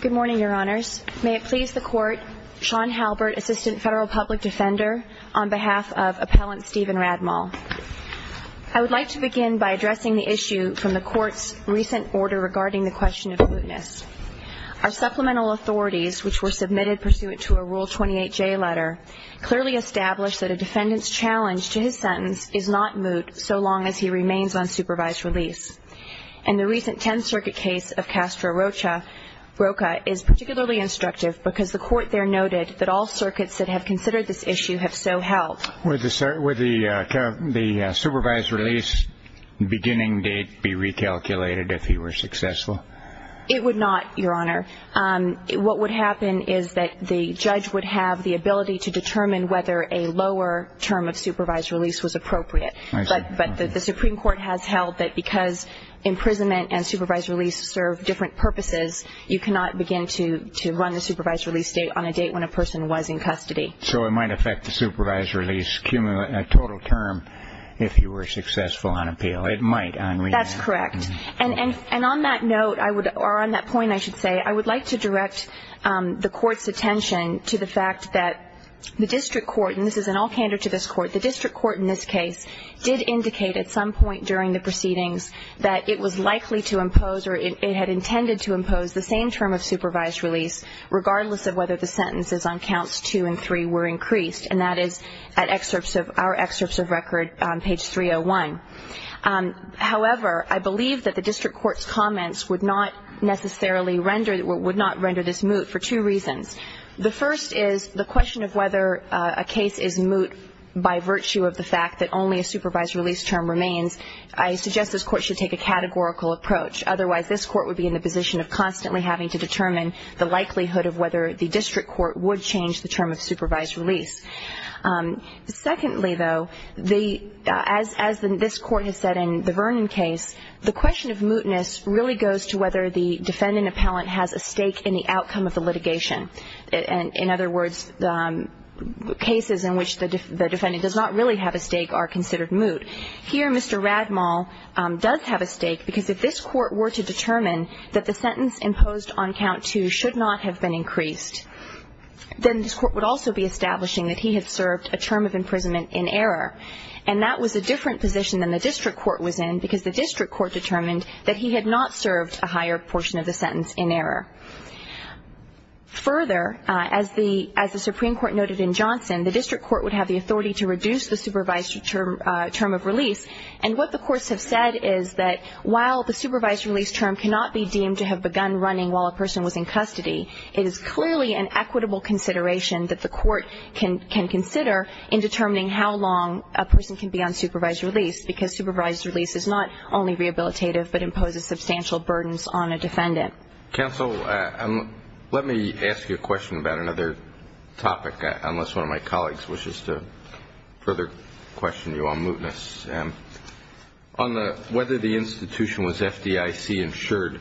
Good morning, Your Honors. May it please the Court, Sean Halbert, Assistant Federal Public Defender, on behalf of Appellant Stephen Radmall. I would like to begin by addressing the issue from the Court's recent order regarding the question of mootness. Our supplemental authorities, which were submitted pursuant to a Rule 28J letter, clearly established that a defendant's challenge to his sentence is not moot so long as he remains on supervised release. And the recent Tenth Circuit case of Castro Rocha is particularly instructive because the Court there noted that all circuits that have considered this issue have so held. Would the supervised release beginning date be recalculated if he were successful? It would not, Your Honor. What would happen is that the judge would have the ability to determine whether a lower term of supervised release was appropriate. But the Supreme Court has held that because imprisonment and supervised release serve different purposes, you cannot begin to run the supervised release date on a date when a person was in custody. So it might affect the supervised release total term if he were successful on appeal. It might, on rehab. That's correct. And on that note, or on that point, I should say, I would like to direct the Court's attention to the fact that the District Court, and this is an off-hander to this Court, but the District Court in this case did indicate at some point during the proceedings that it was likely to impose, or it had intended to impose the same term of supervised release regardless of whether the sentences on counts two and three were increased. And that is at our excerpts of record on page 301. However, I believe that the District Court's comments would not necessarily render, would not render this moot for two reasons. The first is the question of whether a case is moot by virtue of the fact that only a supervised release term remains. I suggest this Court should take a categorical approach. Otherwise, this Court would be in the position of constantly having to determine the likelihood of whether the District Court would change the term of supervised release. Secondly, though, as this Court has said in the Vernon case, the question of mootness really goes to whether the defendant appellant has a stake in the outcome of the litigation. In other words, cases in which the defendant does not really have a stake are considered moot. Here, Mr. Radmall does have a stake because if this Court were to determine that the sentence imposed on count two should not have been increased, then this Court would also be establishing that he had served a term of imprisonment in error. And that was a different position than the District Court was in, because the District Court determined that he had not served a higher portion of the sentence in error. Further, as the Supreme Court noted in Johnson, the District Court would have the authority to reduce the supervised term of release. And what the courts have said is that while the supervised release term cannot be deemed to have begun running while a person was in custody, it is clearly an equitable consideration that the court can consider in determining how long a person can be on supervised release, because supervised release is not only rehabilitative but imposes substantial burdens on a defendant. Counsel, let me ask you a question about another topic, unless one of my colleagues wishes to further question you on mootness. On whether the institution was FDIC insured,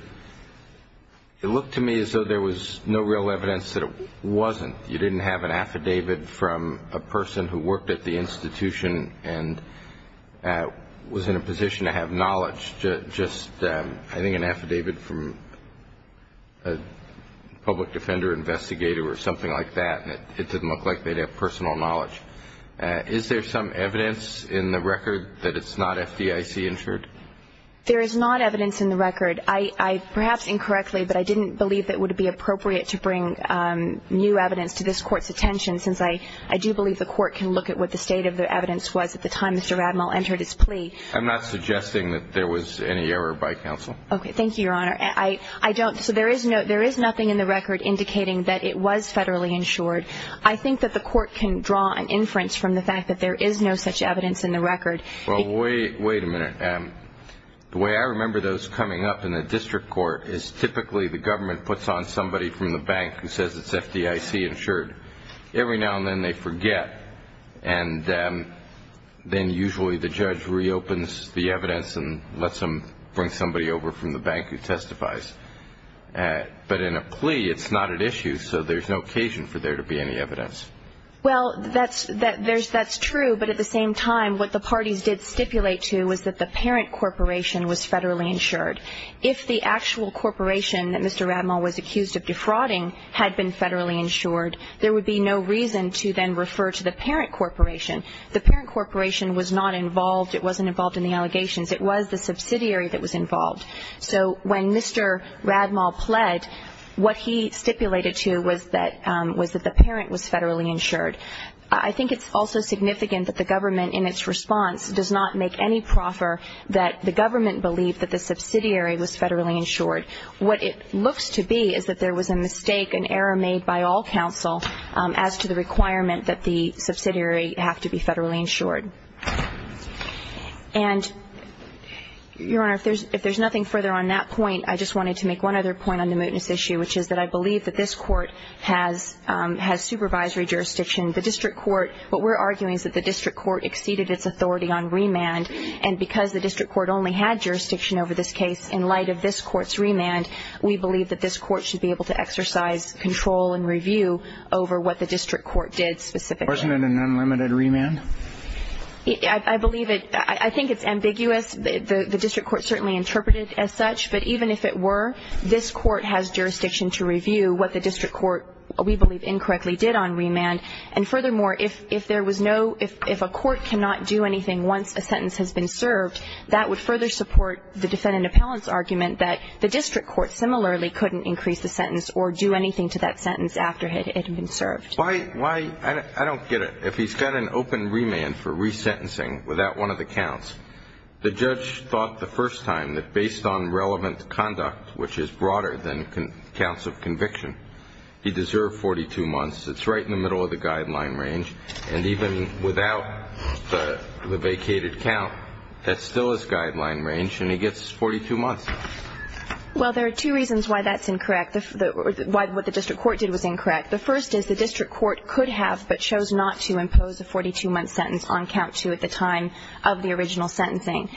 it looked to me as though there was no real evidence that it wasn't. You didn't have an affidavit from a person who worked at the institution and was in a position to have knowledge, just I think an affidavit from a public defender investigator or something like that, and it didn't look like they'd have personal knowledge. Is there some evidence in the record that it's not FDIC insured? There is not evidence in the record. Perhaps incorrectly, but I didn't believe it would be appropriate to bring new evidence to this Court's attention, since I do believe the Court can look at what the state of the evidence was at the time Mr. Radmel entered his plea. I'm not suggesting that there was any error by counsel. Okay. Thank you, Your Honor. So there is nothing in the record indicating that it was federally insured. I think that the Court can draw an inference from the fact that there is no such evidence in the record. Well, wait a minute. The way I remember those coming up in the district court is typically the government puts on somebody from the bank who says it's FDIC insured. Every now and then they forget, and then usually the judge reopens the evidence and lets them bring somebody over from the bank who testifies. But in a plea, it's not at issue, so there's no occasion for there to be any evidence. Well, that's true. But at the same time, what the parties did stipulate to was that the parent corporation was federally insured. If the actual corporation that Mr. Radmel was accused of defrauding had been federally insured, there would be no reason to then refer to the parent corporation. The parent corporation was not involved. It wasn't involved in the allegations. It was the subsidiary that was involved. So when Mr. Radmel pled, what he stipulated to was that the parent was federally insured. I think it's also significant that the government, in its response, does not make any proffer that the government believe that the subsidiary was federally insured. What it looks to be is that there was a mistake, an error made by all counsel, as to the requirement that the subsidiary have to be federally insured. And, Your Honor, if there's nothing further on that point, I just wanted to make one other point on the mootness issue, which is that I believe that this court has supervisory jurisdiction. The district court, what we're arguing is that the district court exceeded its authority on remand, and because the district court only had jurisdiction over this case in light of this court's remand, we believe that this court should be able to exercise control and review over what the district court did specifically. Wasn't it an unlimited remand? I believe it. I think it's ambiguous. The district court certainly interpreted it as such, but even if it were, this court has jurisdiction to review what the district court, we believe, incorrectly did on remand. And, furthermore, if there was no ‑‑ if a court cannot do anything once a sentence has been served, that would further support the defendant appellant's argument that the district court, similarly, couldn't increase the sentence or do anything to that sentence after it had been served. I don't get it. If he's got an open remand for resentencing without one of the counts, the judge thought the first time that based on relevant conduct, which is broader than counts of conviction, he deserved 42 months. It's right in the middle of the guideline range, and even without the vacated count, that's still his guideline range, and he gets 42 months. Well, there are two reasons why that's incorrect, why what the district court did was incorrect. The first is the district court could have but chose not to impose a 42‑month sentence on count two at the time of the original sentencing.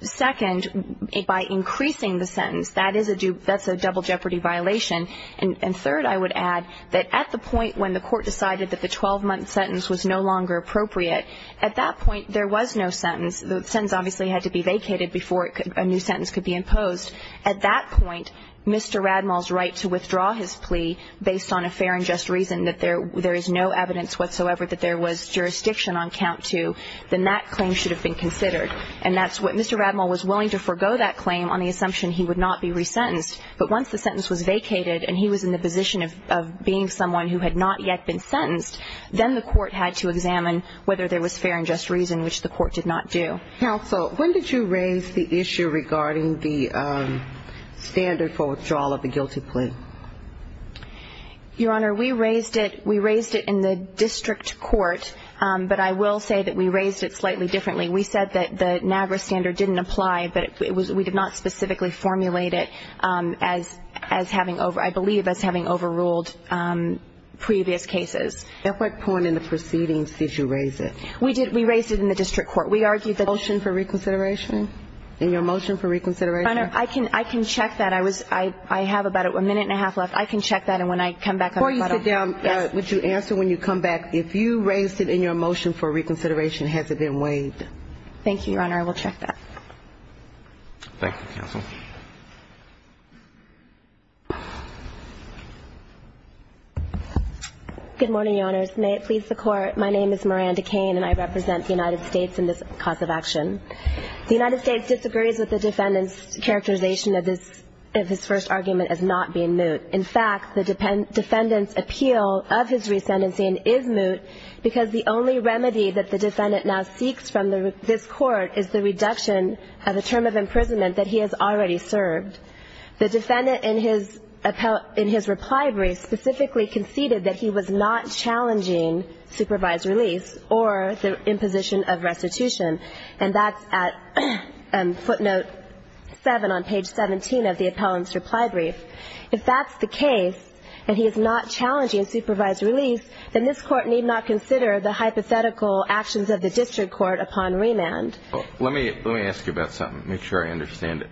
Second, by increasing the sentence, that's a double jeopardy violation. And, third, I would add that at the point when the court decided that the 12‑month sentence was no longer appropriate, at that point there was no sentence. The sentence obviously had to be vacated before a new sentence could be imposed. At that point, Mr. Radmal's right to withdraw his plea based on a fair and just reason, that there is no evidence whatsoever that there was jurisdiction on count two, then that claim should have been considered. And that's what Mr. Radmal was willing to forego that claim on the assumption he would not be resentenced. But once the sentence was vacated and he was in the position of being someone who had not yet been sentenced, then the court had to examine whether there was fair and just reason, which the court did not do. Counsel, when did you raise the issue regarding the standard for withdrawal of a guilty plea? Your Honor, we raised it in the district court, but I will say that we raised it slightly differently. We said that the NAGRA standard didn't apply, but we did not specifically formulate it as having overruled previous cases. At what point in the proceedings did you raise it? We raised it in the district court. We argued that Motion for reconsideration? In your motion for reconsideration? Your Honor, I can check that. I have about a minute and a half left. I can check that. And when I come back, I will let him know. Before you sit down, would you answer when you come back, if you raised it in your motion for reconsideration, has it been waived? Thank you, Your Honor. Thank you, counsel. Good morning, Your Honors. May it please the Court. My name is Miranda Cain, and I represent the United States in this cause of action. The United States disagrees with the defendant's characterization of his first argument as not being moot. In fact, the defendant's appeal of his resentencing is moot because the only remedy that the defendant now seeks from this Court is the reduction of the term of imprisonment that he has already served. The defendant in his reply brief specifically conceded that he was not challenging supervised release or the imposition of restitution. And that's at footnote 7 on page 17 of the appellant's reply brief. If that's the case and he is not challenging supervised release, then this Court need not consider the hypothetical actions of the district court upon remand. Let me ask you about something to make sure I understand it.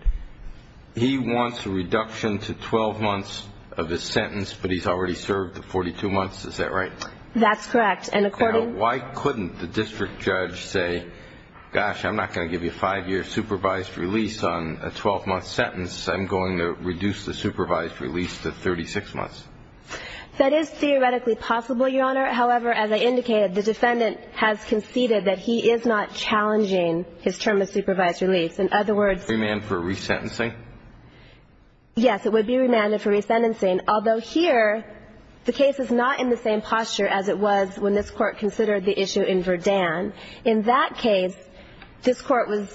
He wants a reduction to 12 months of his sentence, but he's already served the 42 months. Is that right? That's correct. And according to the district court, why couldn't the district judge say, gosh, I'm not going to give you a five-year supervised release on a 12-month sentence. I'm going to reduce the supervised release to 36 months. That is theoretically possible, Your Honor. However, as I indicated, the defendant has conceded that he is not challenging his term of supervised release. In other words. Remand for resentencing? Yes, it would be remanded for resentencing, although here the case is not in the same posture as it was when this Court considered the issue in Verdan. In that case, this Court was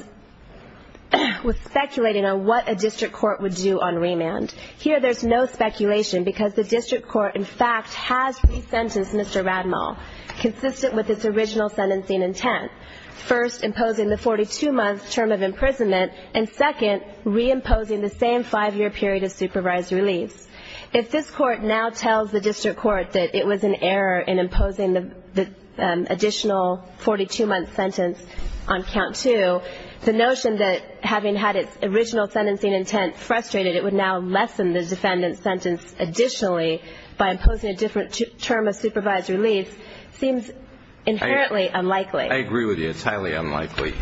speculating on what a district court would do on remand. Here there's no speculation because the district court, in fact, has resentenced Mr. Rademach consistent with its original sentencing intent, first imposing the 42-month term of imprisonment, and second reimposing the same five-year period of supervised release. If this Court now tells the district court that it was in error in imposing the additional 42-month sentence on count two, the notion that having had its original sentencing intent frustrated, it would now lessen the defendant's sentence additionally by imposing a different term of supervised release seems inherently unlikely. I agree with you. It's highly unlikely.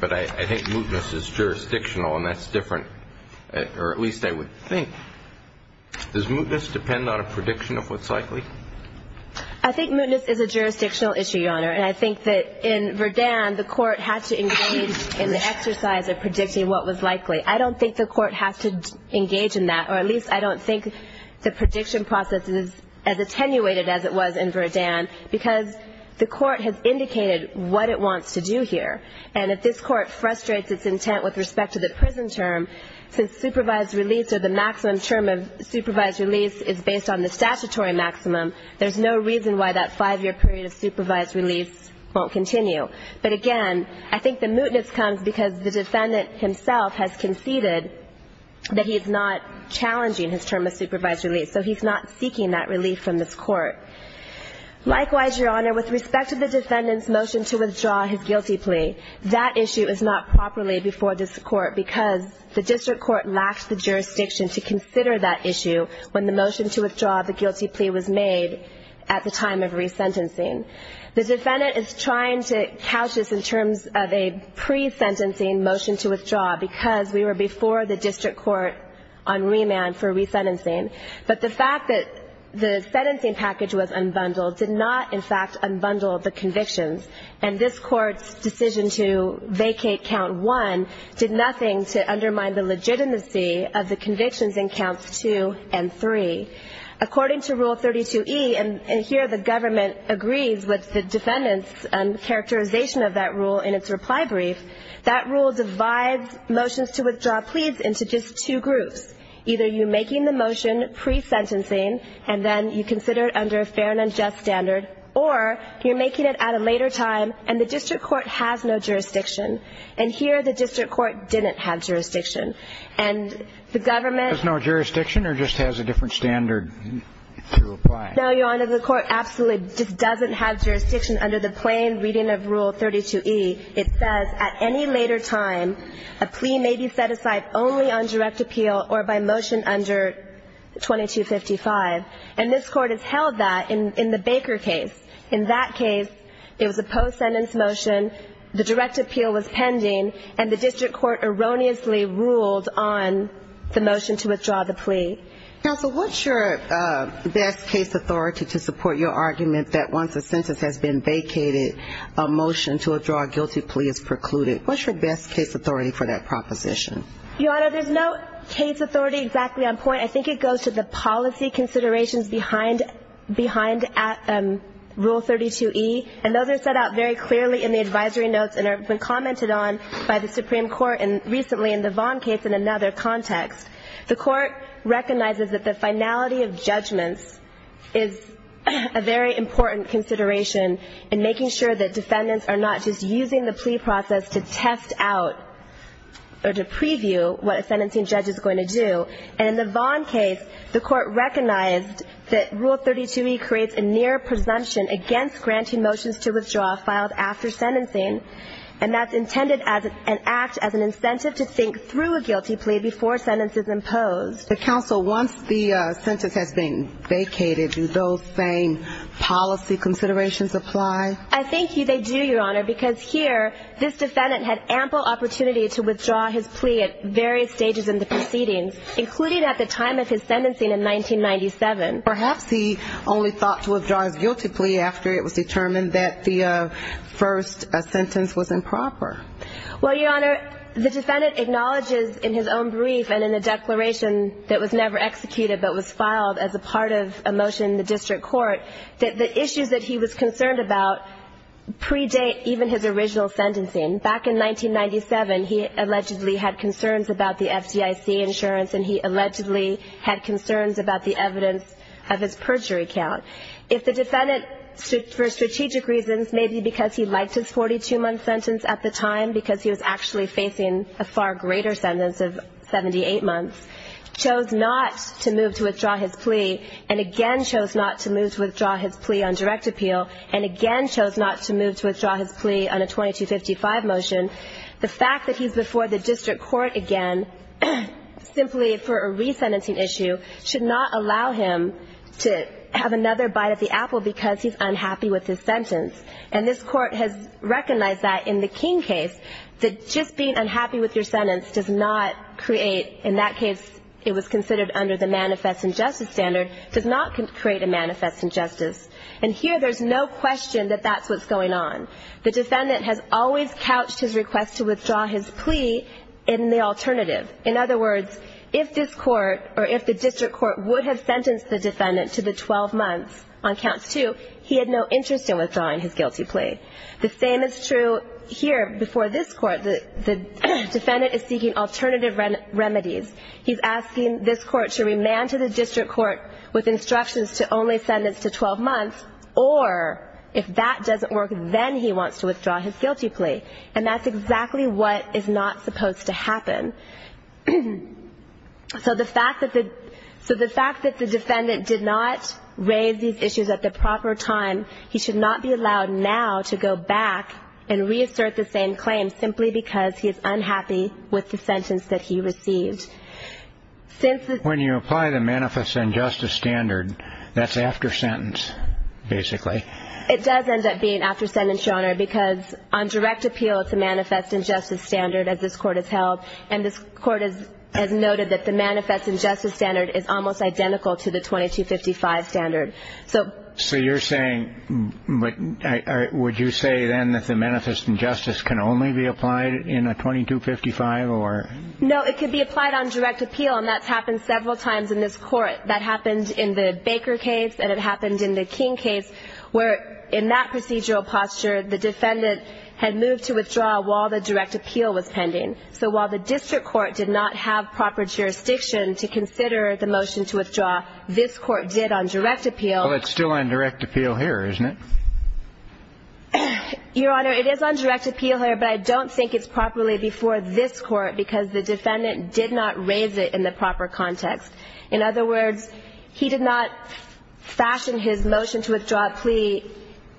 But I think mootness is jurisdictional, and that's different, or at least I would think. Does mootness depend on a prediction of what's likely? I think mootness is a jurisdictional issue, Your Honor, and I think that in Verdan the Court had to engage in the exercise of predicting what was likely. I don't think the Court has to engage in that, or at least I don't think the prediction process is as attenuated as it was in Verdan because the Court has indicated what it wants to do here. And if this Court frustrates its intent with respect to the prison term, since supervised release or the maximum term of supervised release is based on the statutory maximum, there's no reason why that five-year period of supervised release won't continue. But again, I think the mootness comes because the defendant himself has conceded that he is not challenging his term of supervised release, so he's not seeking that relief from this Court. Likewise, Your Honor, with respect to the defendant's motion to withdraw his guilty plea, that issue is not properly before this Court because the district court lacked the jurisdiction to consider that issue when the motion to withdraw the guilty plea was made at the time of resentencing. The defendant is trying to couch this in terms of a pre-sentencing motion to withdraw because we were before the district court on remand for resentencing. But the fact that the sentencing package was unbundled did not, in fact, unbundle the convictions. And this Court's decision to vacate Count 1 did nothing to undermine the legitimacy of the convictions in Counts 2 and 3. According to Rule 32e, and here the government agrees with the defendant's characterization of that rule in its reply brief, that rule divides motions to withdraw pleas into just two groups, either you're making the motion pre-sentencing and then you consider it under a fair and unjust standard, or you're making it at a later time and the district court has no jurisdiction. And here the district court didn't have jurisdiction. And the government — There's no jurisdiction or just has a different standard to apply? No, Your Honor. The court absolutely just doesn't have jurisdiction under the plain reading of Rule 32e. It says, at any later time, a plea may be set aside only on direct appeal or by motion under 2255. And this court has held that in the Baker case. In that case, it was a post-sentence motion, the direct appeal was pending, and the district court erroneously ruled on the motion to withdraw the plea. Counsel, what's your best case authority to support your argument that once a sentence has been vacated, a motion to withdraw a guilty plea is precluded? What's your best case authority for that proposition? Your Honor, there's no case authority exactly on point. I think it goes to the policy considerations behind Rule 32e, and those are set out very clearly in the advisory notes and have been commented on by the Supreme Court and recently in the Vaughn case in another context. The court recognizes that the finality of judgments is a very important consideration in making sure that defendants are not just using the plea process to test out or to preview what a sentencing judge is going to do. And in the Vaughn case, the court recognized that Rule 32e creates a near presumption against granting motions to withdraw filed after sentencing, and that's intended as an act as an incentive to think through a guilty plea before a sentence is imposed. Counsel, once the sentence has been vacated, do those same policy considerations apply? I think they do, Your Honor, because here this defendant had ample opportunity to withdraw his plea at various stages in the proceedings, including at the time of his sentencing in 1997. Perhaps he only thought to withdraw his guilty plea after it was determined that the first sentence was improper. Well, Your Honor, the defendant acknowledges in his own brief and in the declaration that was never executed but was filed as a part of a motion in the district court that the issues that he was concerned about predate even his original sentencing. Back in 1997, he allegedly had concerns about the FDIC insurance, and he allegedly had concerns about the evidence of his perjury count. If the defendant, for strategic reasons, maybe because he liked his 42-month sentence at the time because he was actually facing a far greater sentence of 78 months, chose not to move to withdraw his plea and again chose not to move to withdraw his plea on direct appeal and again chose not to move to withdraw his plea on a 2255 motion, the fact that he's before the district court again simply for a resentencing issue should not allow him to have another bite of the apple because he's unhappy with his sentence. And this Court has recognized that in the King case, that just being unhappy with your sentence does not create, in that case it was considered under the manifest injustice standard, does not create a manifest injustice. And here there's no question that that's what's going on. The defendant has always couched his request to withdraw his plea in the alternative. In other words, if this Court or if the district court would have sentenced the defendant to the 12 months on Count 2, he had no interest in withdrawing his guilty plea. The same is true here before this Court. The defendant is seeking alternative remedies. He's asking this Court to remand to the district court with instructions to only sentence to 12 months or if that doesn't work, then he wants to withdraw his guilty plea. And that's exactly what is not supposed to happen. So the fact that the defendant did not raise these issues at the proper time, he should not be allowed now to go back and reassert the same claim simply because he is unhappy with the sentence that he received. When you apply the manifest injustice standard, that's after sentence, basically. It does end up being after sentence, Your Honor, because on direct appeal it's a manifest injustice standard, as this Court has held, and this Court has noted that the manifest injustice standard is almost identical to the 2255 standard. So you're saying, would you say then that the manifest injustice can only be applied in a 2255? No, it could be applied on direct appeal, and that's happened several times in this Court. That happened in the Baker case and it happened in the King case where in that procedural posture the defendant had moved to withdraw while the direct appeal was pending. So while the district court did not have proper jurisdiction to consider the motion to withdraw, this Court did on direct appeal. Well, it's still on direct appeal here, isn't it? Your Honor, it is on direct appeal here, but I don't think it's properly before this Court because the defendant did not raise it in the proper context. In other words, he did not fashion his motion to withdraw plea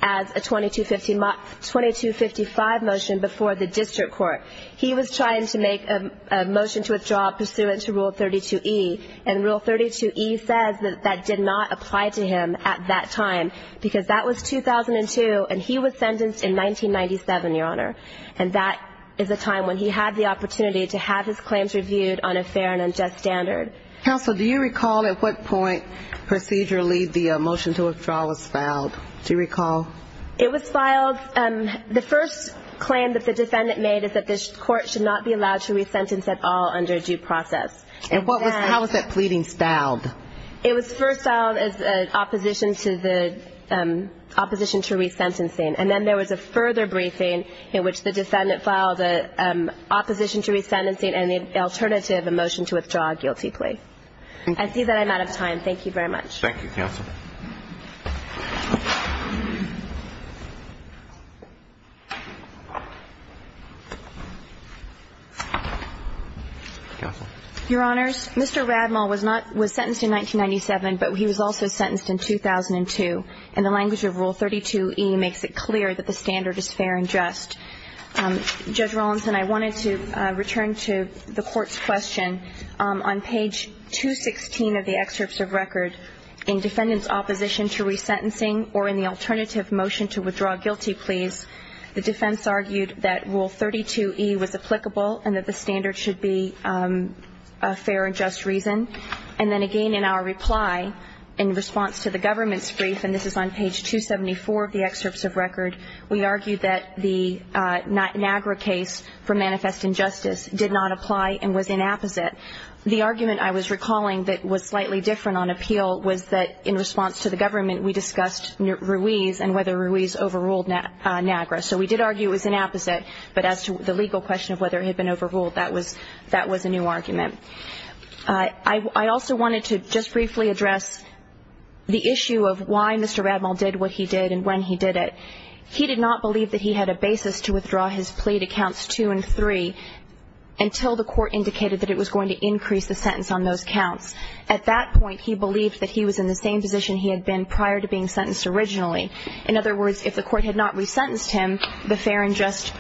as a 2255 motion before the district court. He was trying to make a motion to withdraw pursuant to Rule 32E, and Rule 32E says that that did not apply to him at that time because that was 2002, and he was sentenced in 1997, Your Honor, and that is a time when he had the opportunity to have his claims reviewed on a fair and unjust standard. Counsel, do you recall at what point procedurally the motion to withdraw was filed? Do you recall? It was filed. The first claim that the defendant made is that this Court should not be allowed to resentence at all under due process. And how was that pleading styled? It was first styled as opposition to resentencing, and then there was a further briefing in which the defendant filed an opposition to resentencing and the alternative, a motion to withdraw a guilty plea. I see that I'm out of time. Thank you very much. Thank you, Counsel. Counsel. Your Honors, Mr. Radmal was not – was sentenced in 1997, but he was also sentenced in 2002, and the language of Rule 32E makes it clear that the standard is fair and just. Judge Rawlinson, I wanted to return to the Court's question. On page 216 of the excerpts of record, in defendant's opposition to resentencing or in the alternative motion, to withdraw a guilty plea, the defense argued that Rule 32E was applicable and that the standard should be a fair and just reason. And then again in our reply, in response to the government's brief, and this is on page 274 of the excerpts of record, we argued that the NAGRA case for manifest injustice did not apply and was inapposite. The argument I was recalling that was slightly different on appeal was that in response to the government, we discussed Ruiz and whether Ruiz overruled NAGRA. So we did argue it was inapposite, but as to the legal question of whether it had been overruled, that was a new argument. I also wanted to just briefly address the issue of why Mr. Radmal did what he did and when he did it. He did not believe that he had a basis to withdraw his plea to Counts 2 and 3 until the Court indicated that it was going to increase the sentence on those counts. At that point, he believed that he was in the same position he had been prior to being sentenced originally. In other words, if the Court had not resentenced him, the fair and just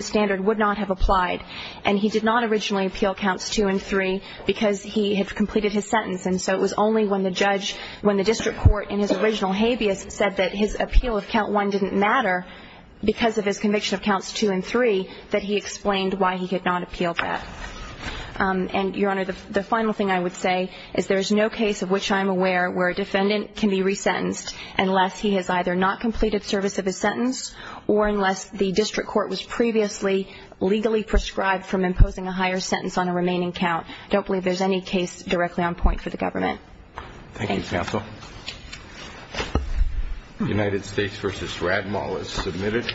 standard would not have applied. And he did not originally appeal Counts 2 and 3 because he had completed his sentence. And so it was only when the judge, when the district court in his original habeas said that his appeal of Count 1 didn't matter because of his conviction of Counts 2 and 3 that he explained why he did not appeal that. And, Your Honor, the final thing I would say is there is no case of which I am aware where a defendant can be resentenced unless he has either not completed service of his sentence or unless the district court was previously legally prescribed from imposing a higher sentence on a remaining count. I don't believe there is any case directly on point for the government. Thank you, counsel. United States v. Radmal is submitted.